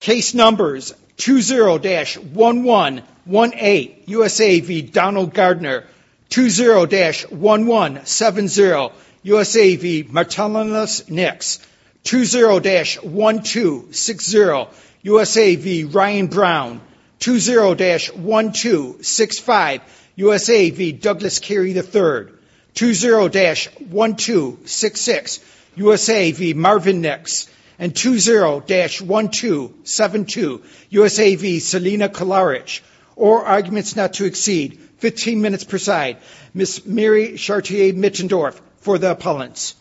Case Numbers 20-1118 USA v. Donald Gardner 20-1170 USA v. Martellanis Nix 20-1260 USA v. Ryan Brown 20-1265 USA v. Douglas Carey III 20-1266 USA v. Marvin Nix and 20-1272 USA v. Selina Kalaric All arguments not to exceed 15 minutes per side. Ms. Mary Chartier-Mittendorf for the appellants.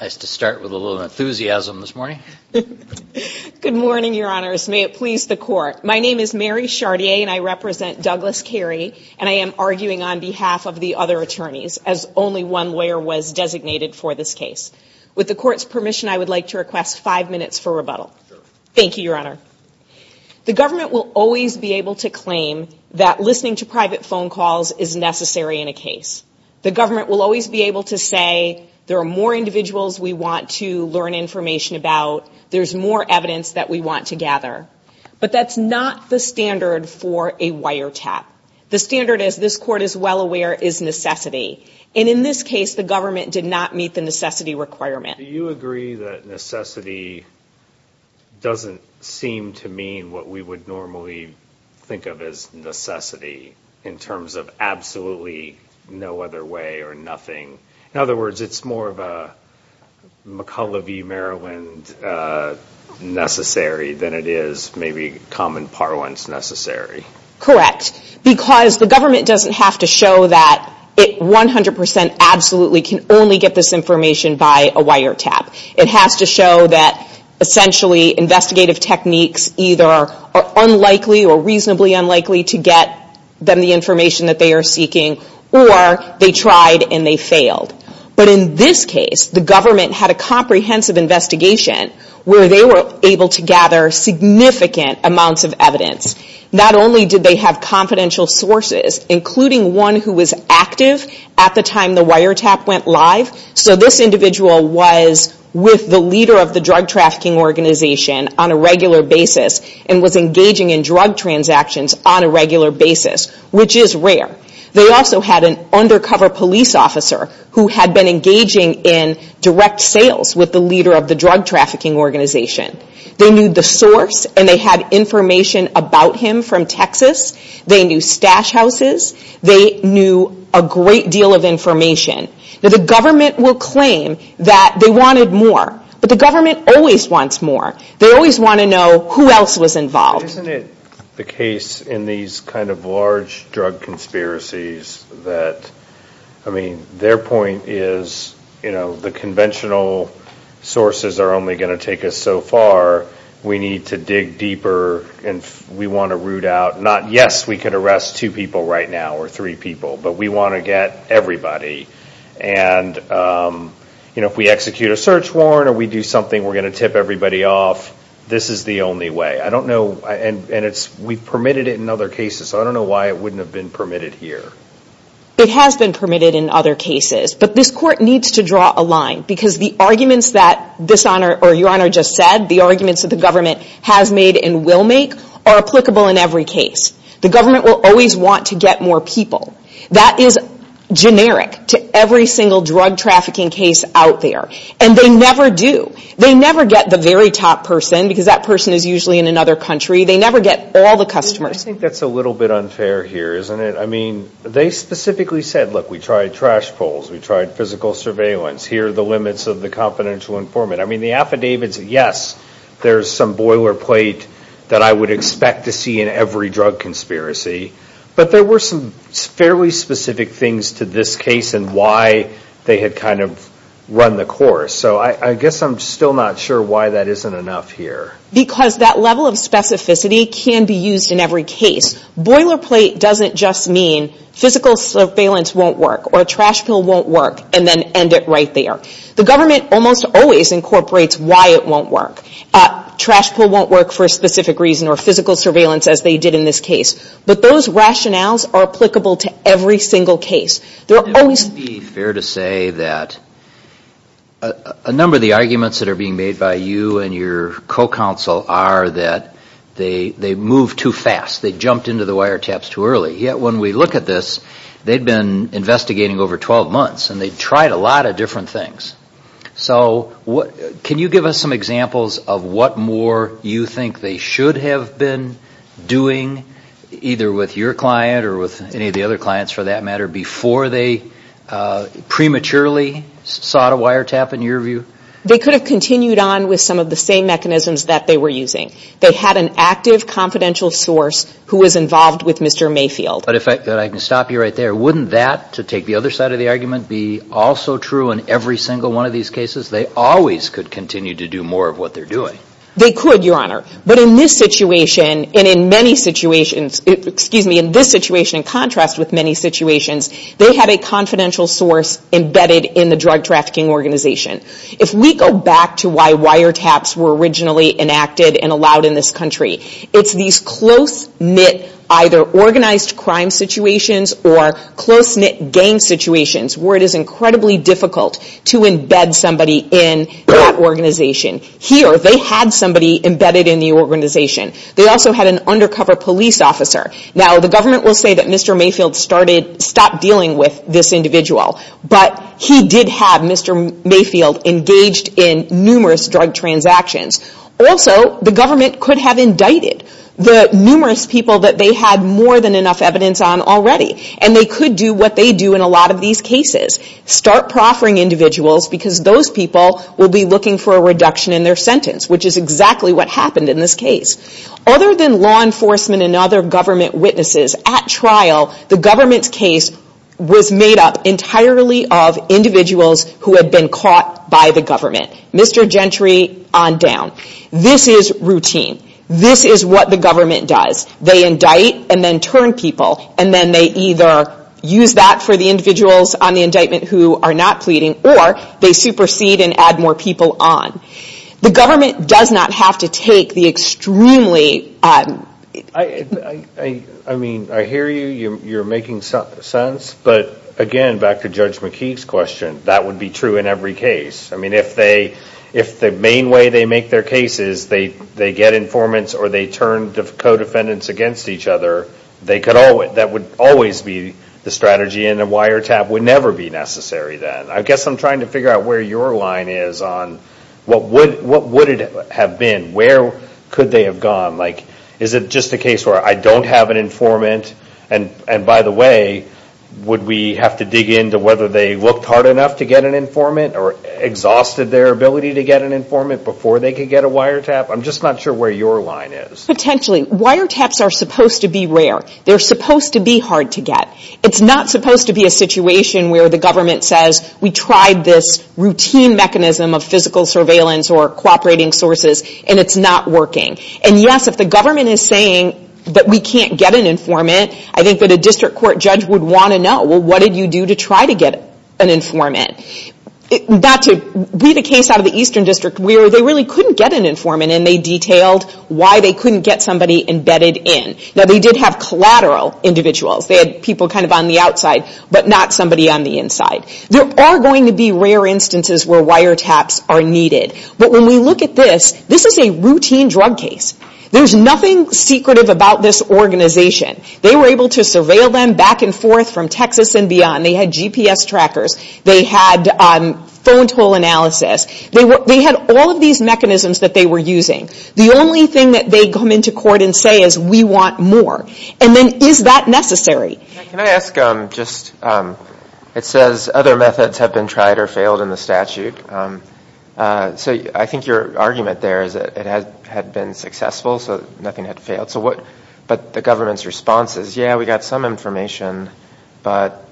I used to start with a little enthusiasm this morning. Good morning, your honors. May it please the court. My name is Mary Chartier and I represent Douglas Carey and I am arguing on behalf of the other attorneys as only one lawyer was designated for this case. With the court's permission, I would like to request five minutes for rebuttal. Thank you, your honor. The government will always be able to claim that listening to private phone calls is necessary in a case. The government will always be able to say there are more individuals we want to learn information about, there's more evidence that we want to gather. But that's not the standard for a wiretap. The standard, as this court is well aware, is necessity. And in this case, the government did not meet the necessity requirement. Do you agree that necessity doesn't seem to mean what we would normally think of as necessity in terms of absolutely no other way or nothing? In other words, it's more of a McCullough v. Maryland necessary than it is maybe common parlance necessary? Correct. Because the government doesn't have to show that it 100% absolutely can only get this information by a wiretap. It has to show that essentially investigative techniques either are unlikely or reasonably unlikely to get them the information that they are seeking or they tried and they failed. But in this case, the government had a comprehensive investigation where they were able to gather significant amounts of evidence. Not only did they have confidential sources, including one who was active at the time the wiretap went live. So this individual was with the leader of the drug trafficking organization on a regular basis and was engaging in drug transactions on a regular basis, which is rare. They also had an undercover police officer who had been engaging in direct sales with the leader of the drug trafficking organization. They knew the source and they had information about him from Texas. They knew stash houses. They knew a great deal of information. The government will claim that they wanted more, but the government always wants more. They always want to know who else was involved. Isn't it the case in these kind of large drug conspiracies that, I mean, their point is the conventional sources are only going to take us so far. We need to dig deeper and we want to root out, not yes, we could arrest two people right now or three people, but we want to get everybody. And if we execute a search warrant or we do something, we're going to tip everybody off. This is the only way. I don't know, and we've permitted it in other cases, so I don't know why it wouldn't have been permitted here. It has been permitted in other cases, but this court needs to draw a line because the arguments that this honor or your honor just said, the arguments that the government has made and will make are applicable in every case. The government will always want to get more people. That is generic to every single drug trafficking case out there, and they never do. They never get the very top person because that person is usually in another country. They never get all the customers. I think that's a little bit unfair here, isn't it? I mean, they specifically said, look, we tried trash poles. We tried physical surveillance. Here are the limits of the confidential informant. I mean, the affidavits, yes, there's some boilerplate that I would expect to see in every drug conspiracy, but there were some fairly specific things to this case and why they had kind of run the course. So I guess I'm still not sure why that isn't enough here. Because that level of specificity can be used in every case. Boilerplate doesn't just mean physical surveillance won't work or a trash pole won't work and then end it right there. The government almost always incorporates why it won't work. Trash pole won't work for a specific reason or physical surveillance as they did in this case. But those rationales are applicable to every single case. It would be fair to say that a number of the arguments that are being made by you and your co-counsel are that they move too fast. They jumped into the wiretaps too early. Yet when we look at this, they've been investigating over 12 months and they've tried a lot of different things. So can you give us some examples of what more you think they should have been doing, either with your client or with any of the other clients for that matter, before they prematurely sought a wiretap in your view? They could have continued on with some of the same mechanisms that they were using. They had an active confidential source who was involved with Mr. Mayfield. But if I can stop you right there, wouldn't that, to take the other side of the argument, be also true in every single one of these cases? They always could continue to do more of what they're doing. They could, Your Honor. But in this situation and in many situations, excuse me, in this situation in contrast with many situations, they had a confidential source embedded in the drug trafficking organization. If we go back to why wiretaps were originally enacted and allowed in this country, it's these close-knit either organized crime situations or close-knit gang situations where it is incredibly difficult to embed somebody in that organization. Here, they had somebody embedded in the organization. They also had an undercover police officer. Now, the government will say that Mr. Mayfield stopped dealing with this individual. But he did have Mr. Mayfield engaged in numerous drug transactions. Also, the government could have indicted the numerous people that they had more than enough evidence on already. And they could do what they do in a lot of these cases, start proffering individuals because those people will be looking for a reduction in their sentence, which is exactly what happened in this case. Other than law enforcement and other government witnesses, at trial, the government's case was made up entirely of individuals who had been caught by the government. Mr. Gentry on down. This is routine. This is what the government does. They indict and then turn people. And then they either use that for the individuals on the indictment who are not pleading or they supersede and add more people on. The government does not have to take the extremely... I mean, I hear you. You're making sense. But again, back to Judge McKee's question, that would be true in every case. I mean, if the main way they make their case is they get informants or they turn co-defendants against each other, that would always be the strategy. And a wiretap would never be necessary then. I guess I'm trying to figure out where your line is on what would it have been? Where could they have gone? Like, is it just a case where I don't have an informant? And by the way, would we have to dig into whether they looked hard enough to get an informant or exhausted their ability to get an informant before they could get a wiretap? I'm just not sure where your line is. Potentially. Wiretaps are supposed to be rare. They're supposed to be hard to get. It's not supposed to be a situation where the government says, we tried this routine mechanism of physical surveillance or cooperating sources, and it's not working. And, yes, if the government is saying that we can't get an informant, I think that a district court judge would want to know, well, what did you do to try to get an informant? Not to be the case out of the Eastern District, where they really couldn't get an informant, and they detailed why they couldn't get somebody embedded in. Now, they did have collateral individuals. They had people kind of on the outside, but not somebody on the inside. There are going to be rare instances where wiretaps are needed. But when we look at this, this is a routine drug case. There's nothing secretive about this organization. They were able to surveil them back and forth from Texas and beyond. They had GPS trackers. They had phone toll analysis. They had all of these mechanisms that they were using. The only thing that they come into court and say is, we want more. And then, is that necessary? Can I ask just, it says other methods have been tried or failed in the statute. So I think your argument there is that it had been successful, so nothing had failed. But the government's response is, yeah, we got some information, but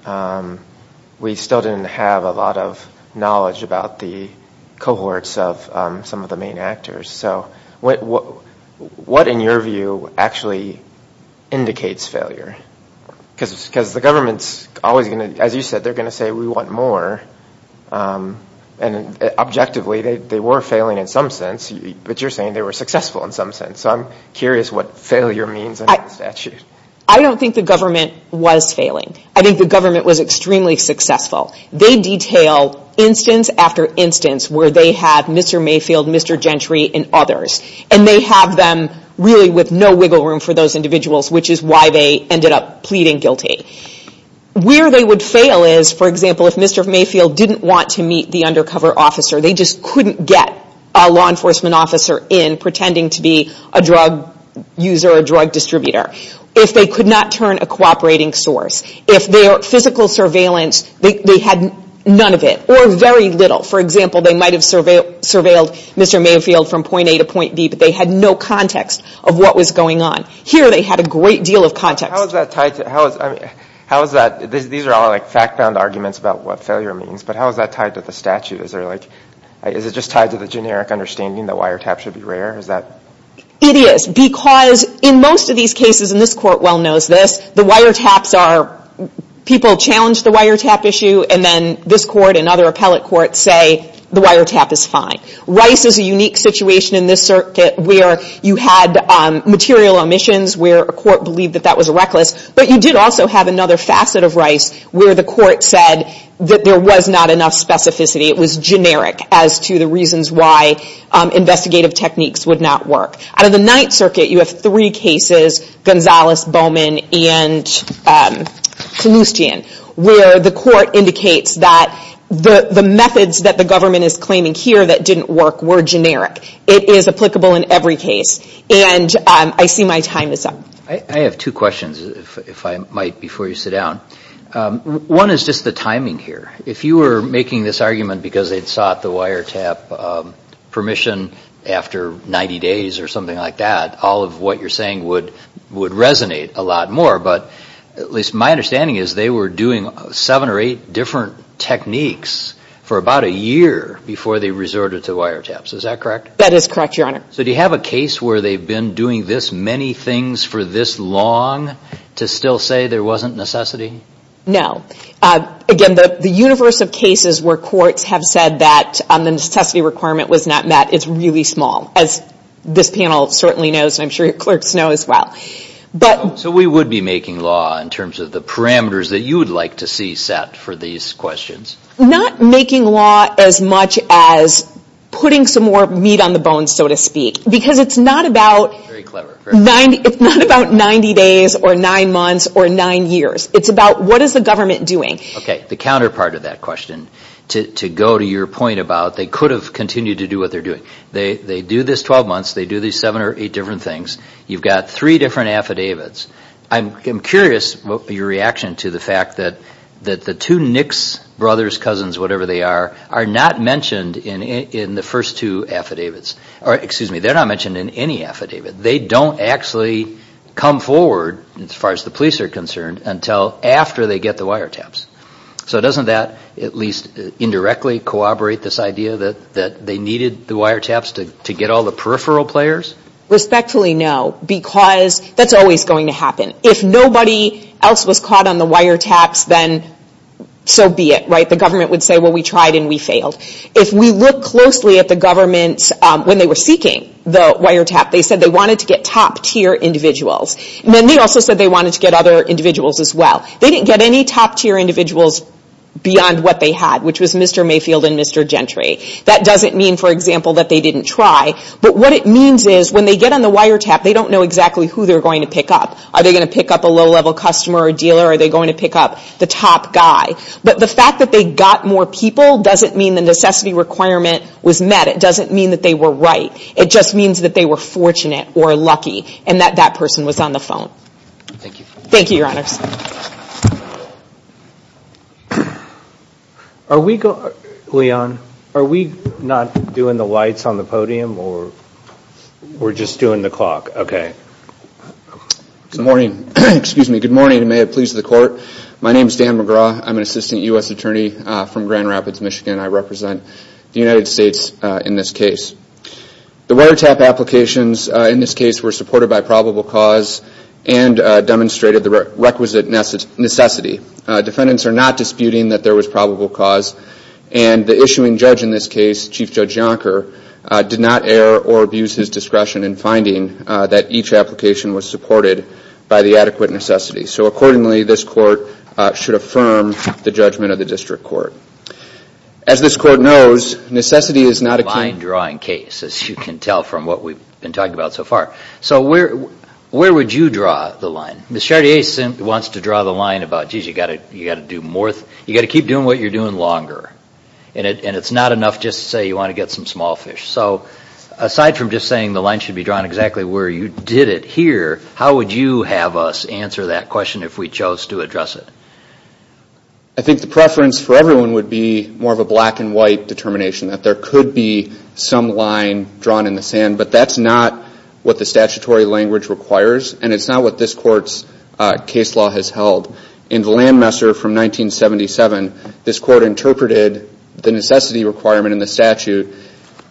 we still didn't have a lot of knowledge about the cohorts of some of the main actors. So what, in your view, actually indicates failure? Because the government's always going to, as you said, they're going to say, we want more. And objectively, they were failing in some sense, but you're saying they were successful in some sense. So I'm curious what failure means in the statute. I don't think the government was failing. I think the government was extremely successful. They detail instance after instance where they have Mr. Mayfield, Mr. Gentry, and others. And they have them really with no wiggle room for those individuals, which is why they ended up pleading guilty. Where they would fail is, for example, if Mr. Mayfield didn't want to meet the undercover officer, they just couldn't get a law enforcement officer in pretending to be a drug user or a drug distributor. If they could not turn a cooperating source, if their physical surveillance, they had none of it, or very little. For example, they might have surveilled Mr. Mayfield from point A to point B, but they had no context of what was going on. Here they had a great deal of context. How is that tied to, how is that, these are all like fact-bound arguments about what failure means, but how is that tied to the statute? Is it just tied to the generic understanding that wiretaps should be rare? It is, because in most of these cases, and this court well knows this, the wiretaps are, people challenge the wiretap issue, and then this court and other appellate courts say the wiretap is fine. Rice is a unique situation in this circuit where you had material omissions where a court believed that that was a reckless, but you did also have another facet of Rice where the court said that there was not enough specificity. It was generic as to the reasons why investigative techniques would not work. Out of the Ninth Circuit, you have three cases, Gonzalez, Bowman, and Kalustyan, where the court indicates that the methods that the government is claiming here that didn't work were generic. It is applicable in every case, and I see my time is up. I have two questions, if I might, before you sit down. One is just the timing here. If you were making this argument because they sought the wiretap permission after 90 days or something like that, all of what you're saying would resonate a lot more, but at least my understanding is they were doing seven or eight different techniques for about a year before they resorted to wiretaps. Is that correct? That is correct, Your Honor. So do you have a case where they've been doing this many things for this long to still say there wasn't necessity? No. Again, the universe of cases where courts have said that the necessity requirement was not met is really small, as this panel certainly knows, and I'm sure your clerks know as well. So we would be making law in terms of the parameters that you would like to see set for these questions? Not making law as much as putting some more meat on the bone, so to speak, because it's not about 90 days or nine months or nine years. It's about what is the government doing. Okay. The counterpart of that question, to go to your point about they could have continued to do what they're doing. They do this 12 months. They do these seven or eight different things. You've got three different affidavits. I'm curious what your reaction to the fact that the two Nicks brothers, cousins, whatever they are, are not mentioned in the first two affidavits. Excuse me, they're not mentioned in any affidavit. They don't actually come forward, as far as the police are concerned, until after they get the wiretaps. So doesn't that at least indirectly corroborate this idea that they needed the wiretaps to get all the peripheral players? Respectfully, no, because that's always going to happen. If nobody else was caught on the wiretaps, then so be it, right? The government would say, well, we tried and we failed. If we look closely at the government, when they were seeking the wiretap, they said they wanted to get top-tier individuals. And then they also said they wanted to get other individuals as well. They didn't get any top-tier individuals beyond what they had, which was Mr. Mayfield and Mr. Gentry. That doesn't mean, for example, that they didn't try. But what it means is when they get on the wiretap, they don't know exactly who they're going to pick up. Are they going to pick up a low-level customer or dealer? Are they going to pick up the top guy? But the fact that they got more people doesn't mean the necessity requirement was met. It doesn't mean that they were right. It just means that they were fortunate or lucky and that that person was on the phone. Thank you. Thank you, Your Honors. Thank you. Leon, are we not doing the lights on the podium or we're just doing the clock? Okay. Good morning. Excuse me. Good morning, and may it please the Court. My name is Dan McGraw. I'm an assistant U.S. attorney from Grand Rapids, Michigan. I represent the United States in this case. The wiretap applications in this case were supported by probable cause and demonstrated the requisite necessity. Defendants are not disputing that there was probable cause, and the issuing judge in this case, Chief Judge Yonker, did not err or abuse his discretion in finding that each application was supported by the adequate necessity. So accordingly, this Court should affirm the judgment of the District Court. As this Court knows, necessity is not a key. A fine-drawing case, as you can tell from what we've been talking about so far. So where would you draw the line? Ms. Chartier wants to draw the line about, geez, you've got to keep doing what you're doing longer, and it's not enough just to say you want to get some small fish. So aside from just saying the line should be drawn exactly where you did it here, how would you have us answer that question if we chose to address it? I think the preference for everyone would be more of a black and white determination, that there could be some line drawn in the sand, but that's not what the statutory language requires, and it's not what this Court's case law has held. In the Landmesser from 1977, this Court interpreted the necessity requirement in the statute.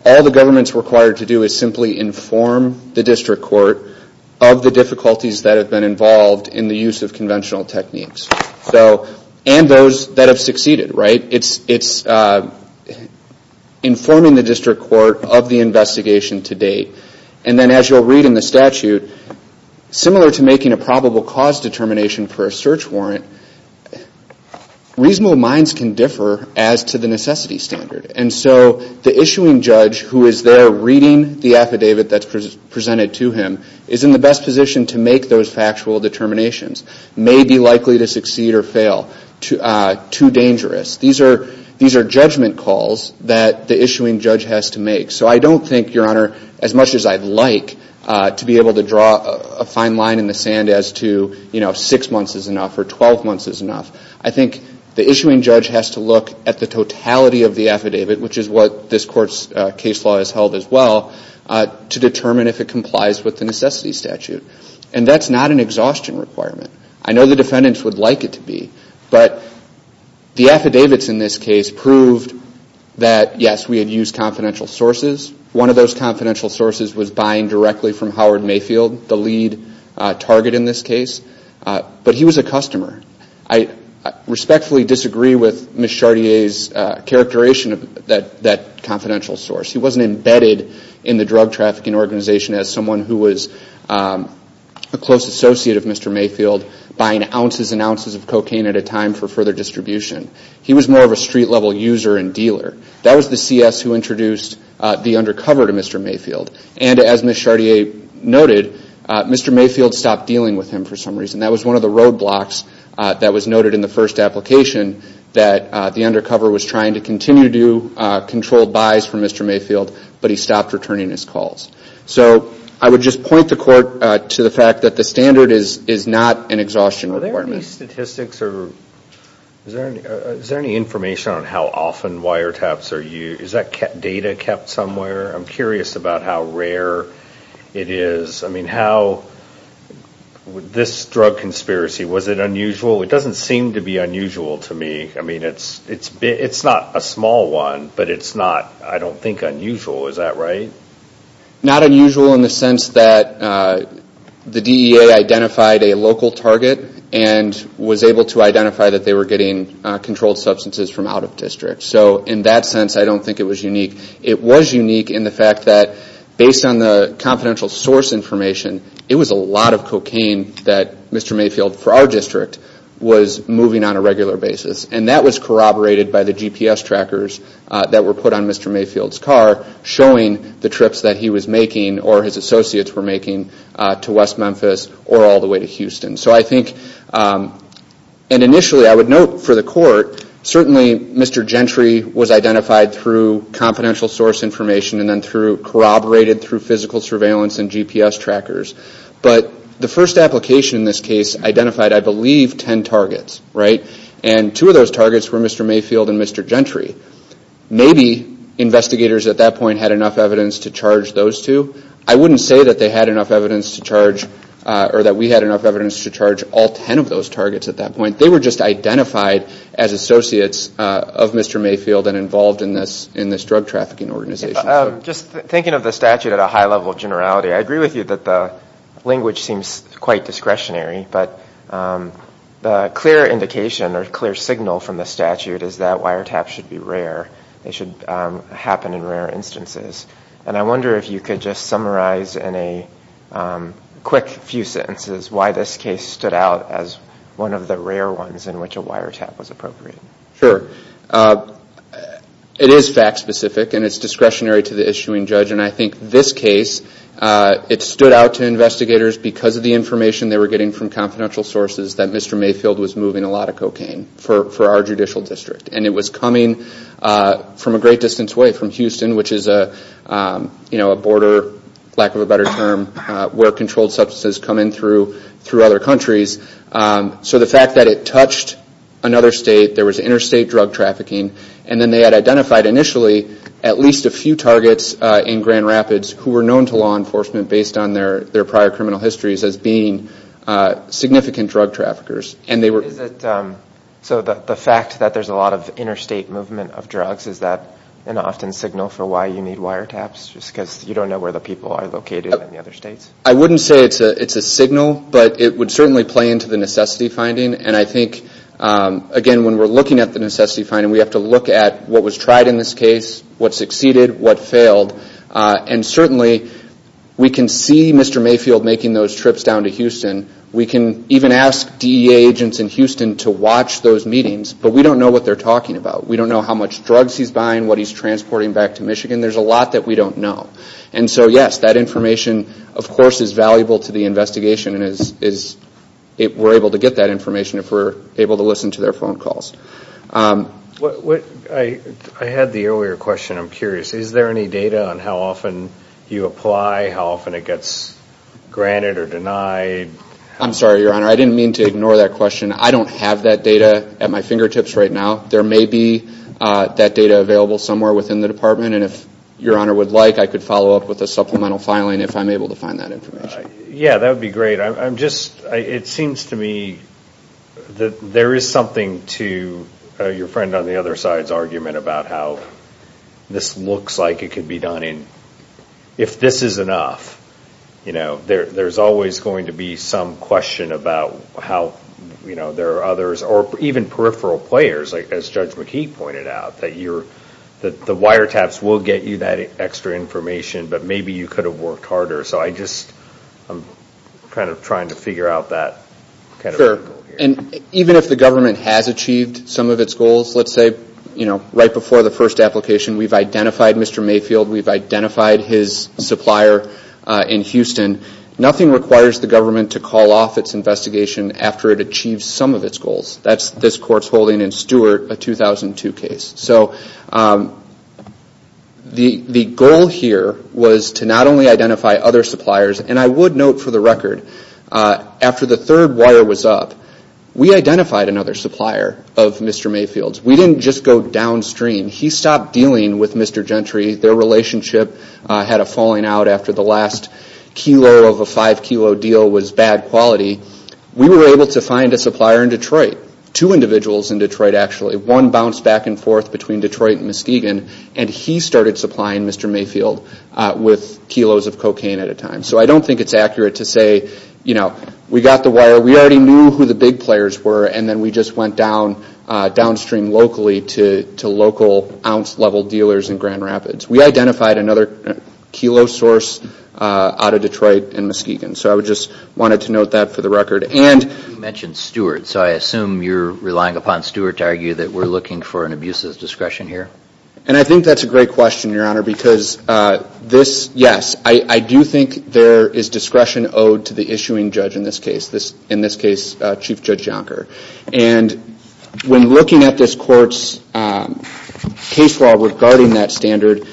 All the government's required to do is simply inform the District Court of the difficulties that have been involved in the use of conventional techniques, and those that have succeeded. It's informing the District Court of the investigation to date. And then as you'll read in the statute, similar to making a probable cause determination for a search warrant, reasonable minds can differ as to the necessity standard. And so the issuing judge who is there reading the affidavit that's presented to him is in the best position to make those factual determinations, may be likely to succeed or fail, too dangerous. These are judgment calls that the issuing judge has to make. So I don't think, Your Honor, as much as I'd like to be able to draw a fine line in the sand as to, you know, six months is enough or 12 months is enough, I think the issuing judge has to look at the totality of the affidavit, which is what this Court's case law has held as well, to determine if it complies with the necessity statute. And that's not an exhaustion requirement. I know the defendants would like it to be. But the affidavits in this case proved that, yes, we had used confidential sources. One of those confidential sources was buying directly from Howard Mayfield, the lead target in this case. But he was a customer. I respectfully disagree with Ms. Chartier's characterization of that confidential source. He wasn't embedded in the drug trafficking organization as someone who was a close associate of Mr. Mayfield, buying ounces and ounces of cocaine at a time for further distribution. He was more of a street-level user and dealer. That was the CS who introduced the undercover to Mr. Mayfield. And as Ms. Chartier noted, Mr. Mayfield stopped dealing with him for some reason. That was one of the roadblocks that was noted in the first application, that the undercover was trying to continue to do controlled buys for Mr. Mayfield, but he stopped returning his calls. So I would just point the court to the fact that the standard is not an exhaustion requirement. Are there any statistics or is there any information on how often wiretaps are used? Is that data kept somewhere? I'm curious about how rare it is. I mean, how would this drug conspiracy, was it unusual? It doesn't seem to be unusual to me. I mean, it's not a small one, but it's not, I don't think, unusual. Is that right? Not unusual in the sense that the DEA identified a local target and was able to identify that they were getting controlled substances from out of district. So in that sense, I don't think it was unique. It was unique in the fact that based on the confidential source information, it was a lot of cocaine that Mr. Mayfield, for our district, was moving on a regular basis. And that was corroborated by the GPS trackers that were put on Mr. Mayfield's car, showing the trips that he was making or his associates were making to West Memphis or all the way to Houston. So I think, and initially I would note for the court, certainly Mr. Gentry was identified through confidential source information and then corroborated through physical surveillance and GPS trackers. But the first application in this case identified, I believe, ten targets, right? And two of those targets were Mr. Mayfield and Mr. Gentry. Maybe investigators at that point had enough evidence to charge those two. I wouldn't say that they had enough evidence to charge, or that we had enough evidence to charge all ten of those targets at that point. They were just identified as associates of Mr. Mayfield and involved in this drug trafficking organization. Just thinking of the statute at a high level of generality, I agree with you that the language seems quite discretionary. But the clear indication or clear signal from the statute is that wiretaps should be rare. They should happen in rare instances. And I wonder if you could just summarize in a quick few sentences why this case stood out as one of the rare ones in which a wiretap was appropriate. Sure. It is fact specific and it's discretionary to the issuing judge. And I think this case, it stood out to investigators because of the information they were getting from confidential sources that Mr. Mayfield was moving a lot of cocaine for our judicial district. And it was coming from a great distance away, from Houston, which is a border, lack of a better term, where controlled substances come in through other countries. So the fact that it touched another state, there was interstate drug trafficking, and then they had identified initially at least a few targets in Grand Rapids who were known to law enforcement based on their prior criminal histories as being significant drug traffickers. So the fact that there's a lot of interstate movement of drugs, is that an often signal for why you need wiretaps? Just because you don't know where the people are located in the other states? I wouldn't say it's a signal, but it would certainly play into the necessity finding. And I think, again, when we're looking at the necessity finding, we have to look at what was tried in this case, what succeeded, what failed. And certainly we can see Mr. Mayfield making those trips down to Houston. We can even ask DEA agents in Houston to watch those meetings, but we don't know what they're talking about. We don't know how much drugs he's buying, what he's transporting back to Michigan. There's a lot that we don't know. And so, yes, that information, of course, is valuable to the investigation and we're able to get that information if we're able to listen to their phone calls. I had the earlier question, I'm curious. Is there any data on how often you apply, how often it gets granted or denied? I'm sorry, Your Honor, I didn't mean to ignore that question. I don't have that data at my fingertips right now. There may be that data available somewhere within the department, and if Your Honor would like, I could follow up with a supplemental filing if I'm able to find that information. Yeah, that would be great. It seems to me that there is something to your friend on the other side's argument about how this looks like it could be done. If this is enough, there's always going to be some question about how there are others, or even peripheral players, as Judge McKee pointed out, that the wiretaps will get you that extra information, but maybe you could have worked harder. So I'm just kind of trying to figure out that. Sure. And even if the government has achieved some of its goals, let's say right before the first application we've identified Mr. Mayfield, we've identified his supplier in Houston, nothing requires the government to call off its investigation after it achieves some of its goals. That's this Court's holding in Stewart, a 2002 case. So the goal here was to not only identify other suppliers, and I would note for the record, after the third wire was up, we identified another supplier of Mr. Mayfield's. We didn't just go downstream. He stopped dealing with Mr. Gentry. Their relationship had a falling out after the last kilo of a five-kilo deal was bad quality. We were able to find a supplier in Detroit, two individuals in Detroit actually. One bounced back and forth between Detroit and Muskegon, and he started supplying Mr. Mayfield with kilos of cocaine at a time. So I don't think it's accurate to say, you know, we got the wire. We already knew who the big players were, and then we just went downstream locally to local ounce-level dealers in Grand Rapids. We identified another kilo source out of Detroit and Muskegon. So I just wanted to note that for the record. And you mentioned Stewart. So I assume you're relying upon Stewart to argue that we're looking for an abuse of discretion here. And I think that's a great question, Your Honor, because this, yes, I do think there is discretion owed to the issuing judge in this case, Chief Judge Jonker. And when looking at this court's case law regarding that standard,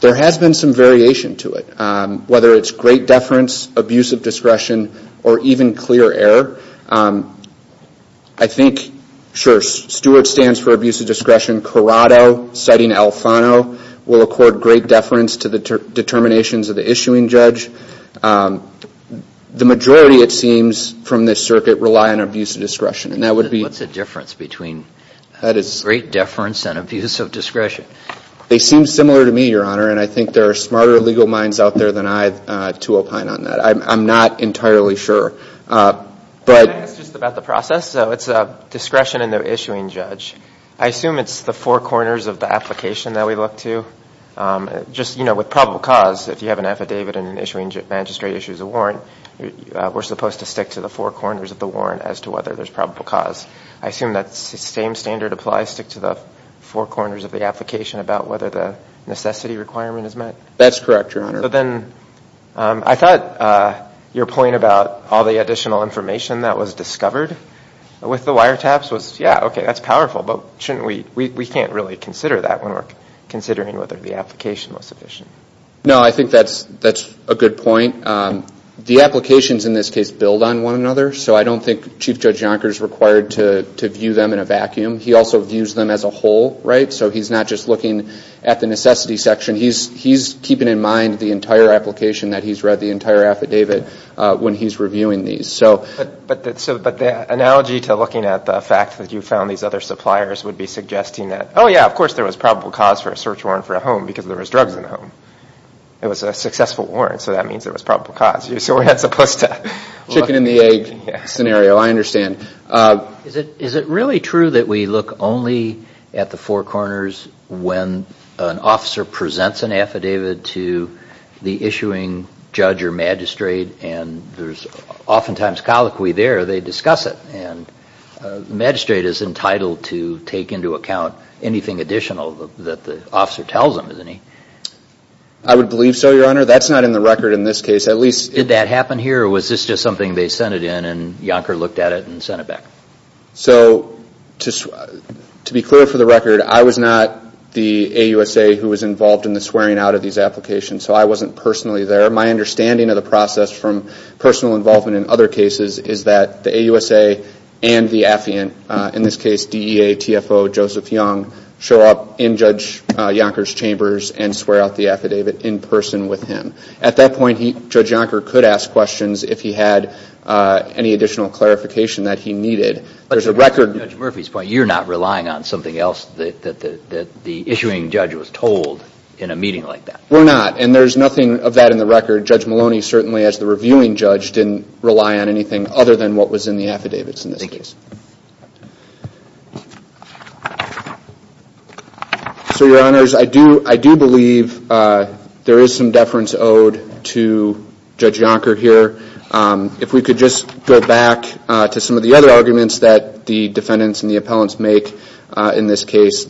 there has been some variation to it, whether it's great deference, abuse of discretion, or even clear error. I think, sure, Stewart stands for abuse of discretion. Corrado, citing Alfano, will accord great deference to the determinations of the issuing judge. The majority, it seems, from this circuit rely on abuse of discretion. And that would be. What's the difference between great deference and abuse of discretion? They seem similar to me, Your Honor, and I think there are smarter legal minds out there than I to opine on that. I'm not entirely sure. Can I ask just about the process? So it's discretion in the issuing judge. I assume it's the four corners of the application that we look to. Just, you know, with probable cause, if you have an affidavit and an issuing magistrate issues a warrant, we're supposed to stick to the four corners of the warrant as to whether there's probable cause. I assume that same standard applies, stick to the four corners of the application about whether the necessity requirement is met? That's correct, Your Honor. But then I thought your point about all the additional information that was discovered with the wiretaps was, yeah, okay, that's powerful. We can't really consider that when we're considering whether the application was sufficient. No, I think that's a good point. The applications in this case build on one another, so I don't think Chief Judge Yonker is required to view them in a vacuum. He also views them as a whole, right? So he's not just looking at the necessity section. He's keeping in mind the entire application, that he's read the entire affidavit when he's reviewing these. But the analogy to looking at the fact that you found these other suppliers would be suggesting that, oh, yeah, of course there was probable cause for a search warrant for a home because there was drugs in the home. It was a successful warrant, so that means there was probable cause. So we're not supposed to... Chicken and the egg scenario, I understand. Is it really true that we look only at the four corners when an officer presents an affidavit to the issuing judge or magistrate and there's oftentimes colloquy there, they discuss it, and the magistrate is entitled to take into account anything additional that the officer tells him, isn't he? I would believe so, Your Honor. That's not in the record in this case. Did that happen here or was this just something they sent it in and Yonker looked at it and sent it back? So to be clear for the record, I was not the AUSA who was involved in the swearing out of these applications, so I wasn't personally there. My understanding of the process from personal involvement in other cases is that the AUSA and the affiant, in this case DEA, TFO, Joseph Young, show up in Judge Yonker's chambers and swear out the affidavit in person with him. At that point, Judge Yonker could ask questions if he had any additional clarification that he needed. But to Judge Murphy's point, you're not relying on something else that the issuing judge was told in a meeting like that? We're not, and there's nothing of that in the record. Judge Maloney, certainly as the reviewing judge, didn't rely on anything other than what was in the affidavits in this case. So, Your Honors, I do believe there is some deference owed to Judge Yonker here. If we could just go back to some of the other arguments that the defendants and the appellants make in this case,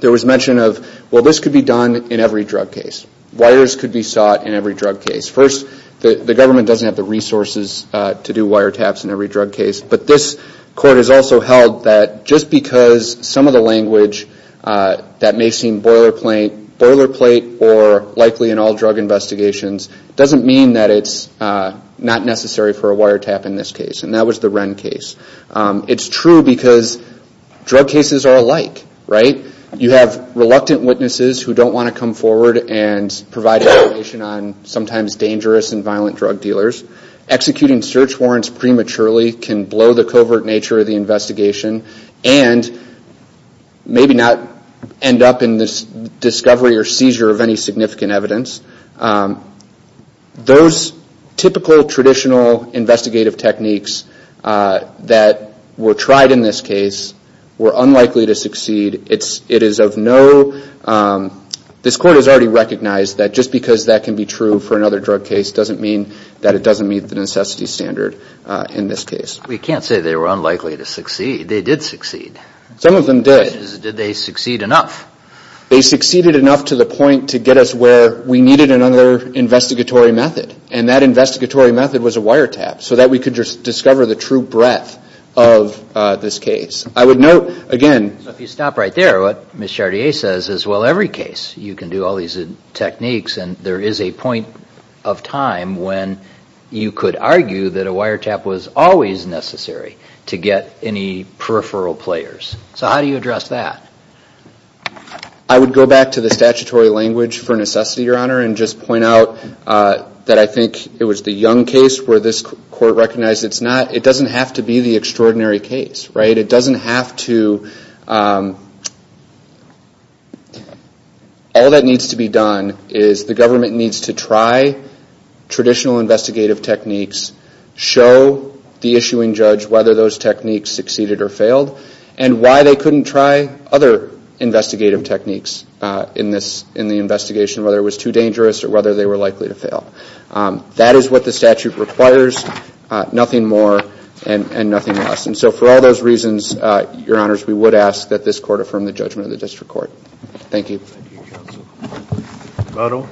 there was mention of, well, this could be done in every drug case. Wires could be sought in every drug case. First, the government doesn't have the resources to do wiretaps in every drug case, but this Court has also held that just because some of the language that may seem boilerplate or likely in all drug investigations doesn't mean that it's not necessary for a wiretap in this case, and that was the Wren case. It's true because drug cases are alike, right? You have reluctant witnesses who don't want to come forward and provide information on sometimes dangerous and violent drug dealers. Executing search warrants prematurely can blow the covert nature of the investigation and maybe not end up in this discovery or seizure of any significant evidence. Those typical traditional investigative techniques that were tried in this case were unlikely to succeed. It is of no – this Court has already recognized that just because that can be true for another drug case doesn't mean that it doesn't meet the necessity standard in this case. We can't say they were unlikely to succeed. They did succeed. Some of them did. Did they succeed enough? They succeeded enough to the point to get us where we needed another investigatory method, and that investigatory method was a wiretap so that we could discover the true breadth of this case. I would note, again – So if you stop right there, what Ms. Chartier says is, well, every case you can do all these techniques, and there is a point of time when you could argue that a wiretap was always necessary to get any peripheral players. So how do you address that? I would go back to the statutory language for necessity, Your Honor, and just point out that I think it was the Young case where this Court recognized it's not – it doesn't have to be the extraordinary case, right? It doesn't have to – all that needs to be done is the government needs to try traditional investigative techniques, show the issuing judge whether those techniques succeeded or failed, and why they couldn't try other investigative techniques in the investigation, whether it was too dangerous or whether they were likely to fail. That is what the statute requires, nothing more and nothing less. And so for all those reasons, Your Honors, we would ask that this Court affirm the judgment of the District Court. Thank you. Thank you, Counsel. Lotto?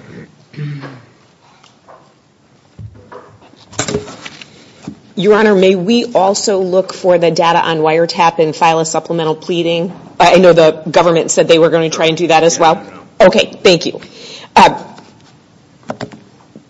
Your Honor, may we also look for the data on wiretap and file a supplemental pleading? I know the government said they were going to try and do that as well. Yeah, I know. Okay, thank you.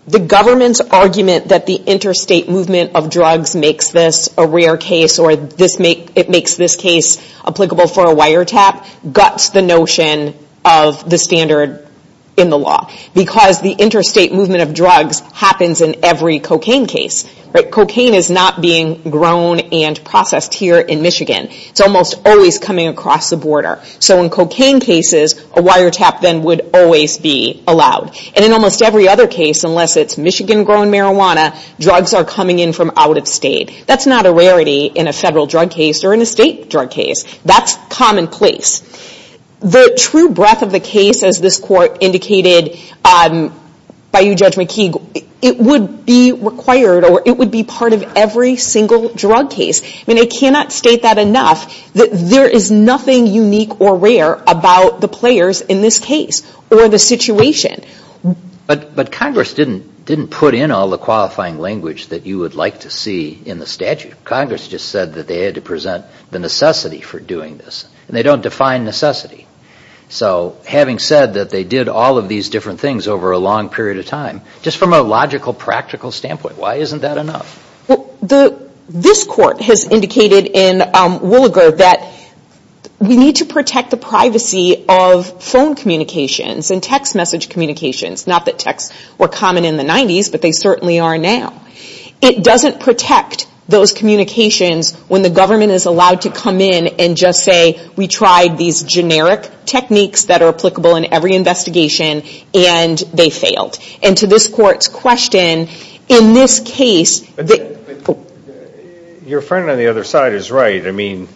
The government's argument that the interstate movement of drugs makes this a rare case or it makes this case applicable for a wiretap guts the notion of the standard in the law. Because the interstate movement of drugs happens in every cocaine case. Cocaine is not being grown and processed here in Michigan. It's almost always coming across the border. So in cocaine cases, a wiretap then would always be allowed. And in almost every other case, unless it's Michigan-grown marijuana, drugs are coming in from out of state. That's not a rarity in a federal drug case or in a state drug case. That's commonplace. The true breadth of the case, as this Court indicated by you, Judge McKeague, it would be required or it would be part of every single drug case. I mean, I cannot state that enough. There is nothing unique or rare about the players in this case or the situation. But Congress didn't put in all the qualifying language that you would like to see in the statute. Congress just said that they had to present the necessity for doing this. And they don't define necessity. So having said that, they did all of these different things over a long period of time. Just from a logical, practical standpoint, why isn't that enough? Well, this Court has indicated in Williger that we need to protect the privacy of phone communications and text message communications. Not that texts were common in the 90s, but they certainly are now. It doesn't protect those communications when the government is allowed to come in and just say we tried these generic techniques that are applicable in every investigation and they failed. And to this Court's question, in this case... Your friend on the other side is right. I mean,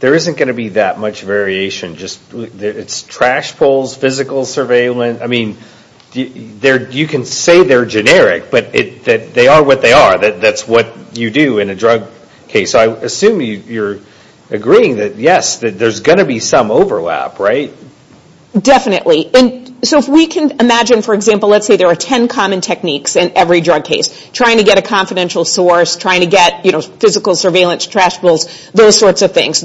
there isn't going to be that much variation. It's trash pulls, physical surveillance. You can say they're generic, but they are what they are. That's what you do in a drug case. So I assume you're agreeing that, yes, there's going to be some overlap, right? Definitely. So if we can imagine, for example, let's say there are ten common techniques in every drug case. Trying to get a confidential source, trying to get physical surveillance, trash pulls, those sorts of things.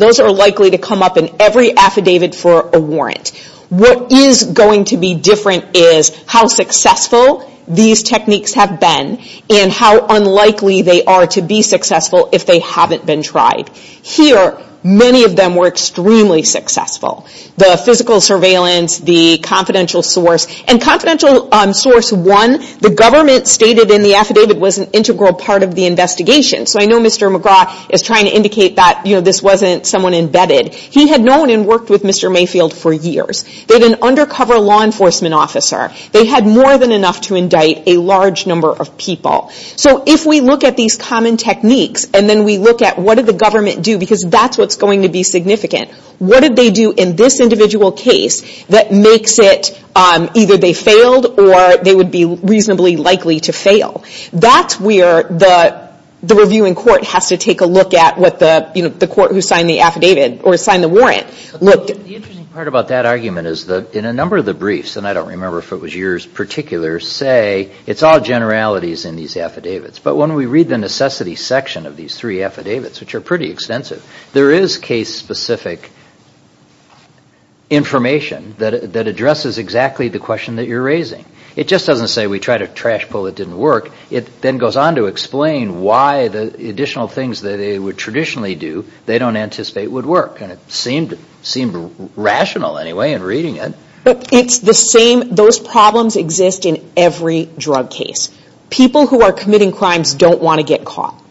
What is going to be different is how successful these techniques have been and how unlikely they are to be successful if they haven't been tried. Here, many of them were extremely successful. The physical surveillance, the confidential source. And confidential source one, the government stated in the affidavit, was an integral part of the investigation. So I know Mr. McGraw is trying to indicate that this wasn't someone embedded. He had known and worked with Mr. Mayfield for years. They had an undercover law enforcement officer. They had more than enough to indict a large number of people. So if we look at these common techniques and then we look at what did the government do, because that's what's going to be significant. What did they do in this individual case that makes it either they failed or they would be reasonably likely to fail? That's where the reviewing court has to take a look at what the court who signed the affidavit or signed the warrant looked at. The interesting part about that argument is that in a number of the briefs, and I don't remember if it was yours particular, say it's all generalities in these affidavits. But when we read the necessity section of these three affidavits, which are pretty extensive, there is case-specific information that addresses exactly the question that you're raising. It just doesn't say we tried a trash pull that didn't work. It then goes on to explain why the additional things that they would traditionally do they don't anticipate would work. It seemed rational anyway in reading it. Those problems exist in every drug case. People who are committing crimes don't want to get caught.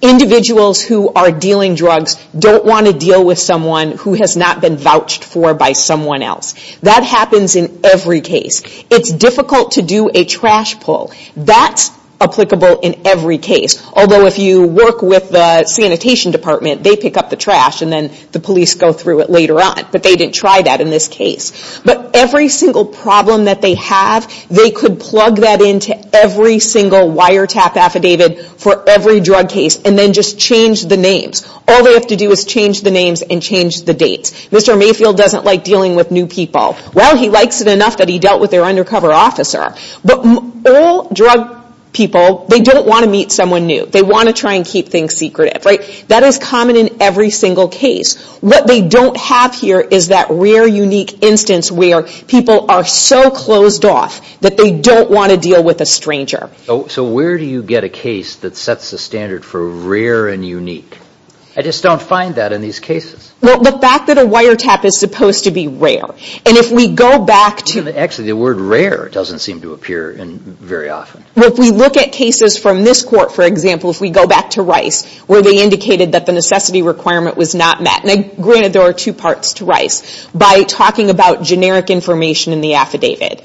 Individuals who are dealing drugs don't want to deal with someone who has not been vouched for by someone else. That happens in every case. It's difficult to do a trash pull. That's applicable in every case. Although if you work with the sanitation department, they pick up the trash and then the police go through it later on. But they didn't try that in this case. But every single problem that they have, they could plug that into every single wiretap affidavit for every drug case and then just change the names. All they have to do is change the names and change the dates. Mr. Mayfield doesn't like dealing with new people. Well, he likes it enough that he dealt with their undercover officer. But all drug people, they don't want to meet someone new. They want to try and keep things secretive. That is common in every single case. What they don't have here is that rare, unique instance where people are so closed off that they don't want to deal with a stranger. So where do you get a case that sets the standard for rare and unique? I just don't find that in these cases. Well, the fact that a wiretap is supposed to be rare. Actually, the word rare doesn't seem to appear very often. If we look at cases from this court, for example, if we go back to Rice, where they indicated that the necessity requirement was not met. Granted, there are two parts to Rice. By talking about generic information in the affidavit.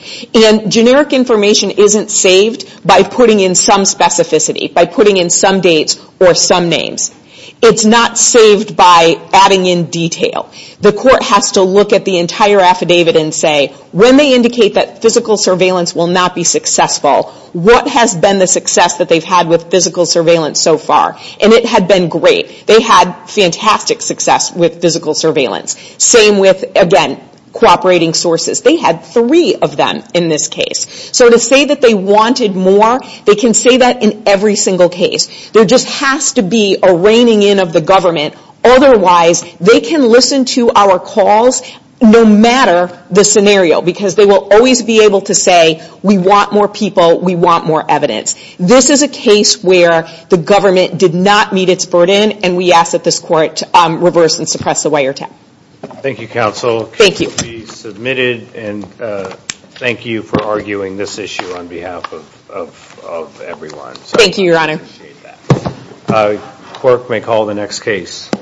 Generic information isn't saved by putting in some specificity, by putting in some dates or some names. It's not saved by adding in detail. The court has to look at the entire affidavit and say, when they indicate that physical surveillance will not be successful, what has been the success that they've had with physical surveillance so far? And it had been great. They had fantastic success with physical surveillance. Same with, again, cooperating sources. They had three of them in this case. So to say that they wanted more, they can say that in every single case. There just has to be a reigning in of the government. Otherwise, they can listen to our calls no matter the scenario because they will always be able to say, we want more people, we want more evidence. This is a case where the government did not meet its burden, and we ask that this court reverse and suppress the wiretap. Thank you, Counsel. Thank you. The case will be submitted, and thank you for arguing this issue on behalf of everyone. Thank you, Your Honor. We appreciate that. Clerk may call the next case.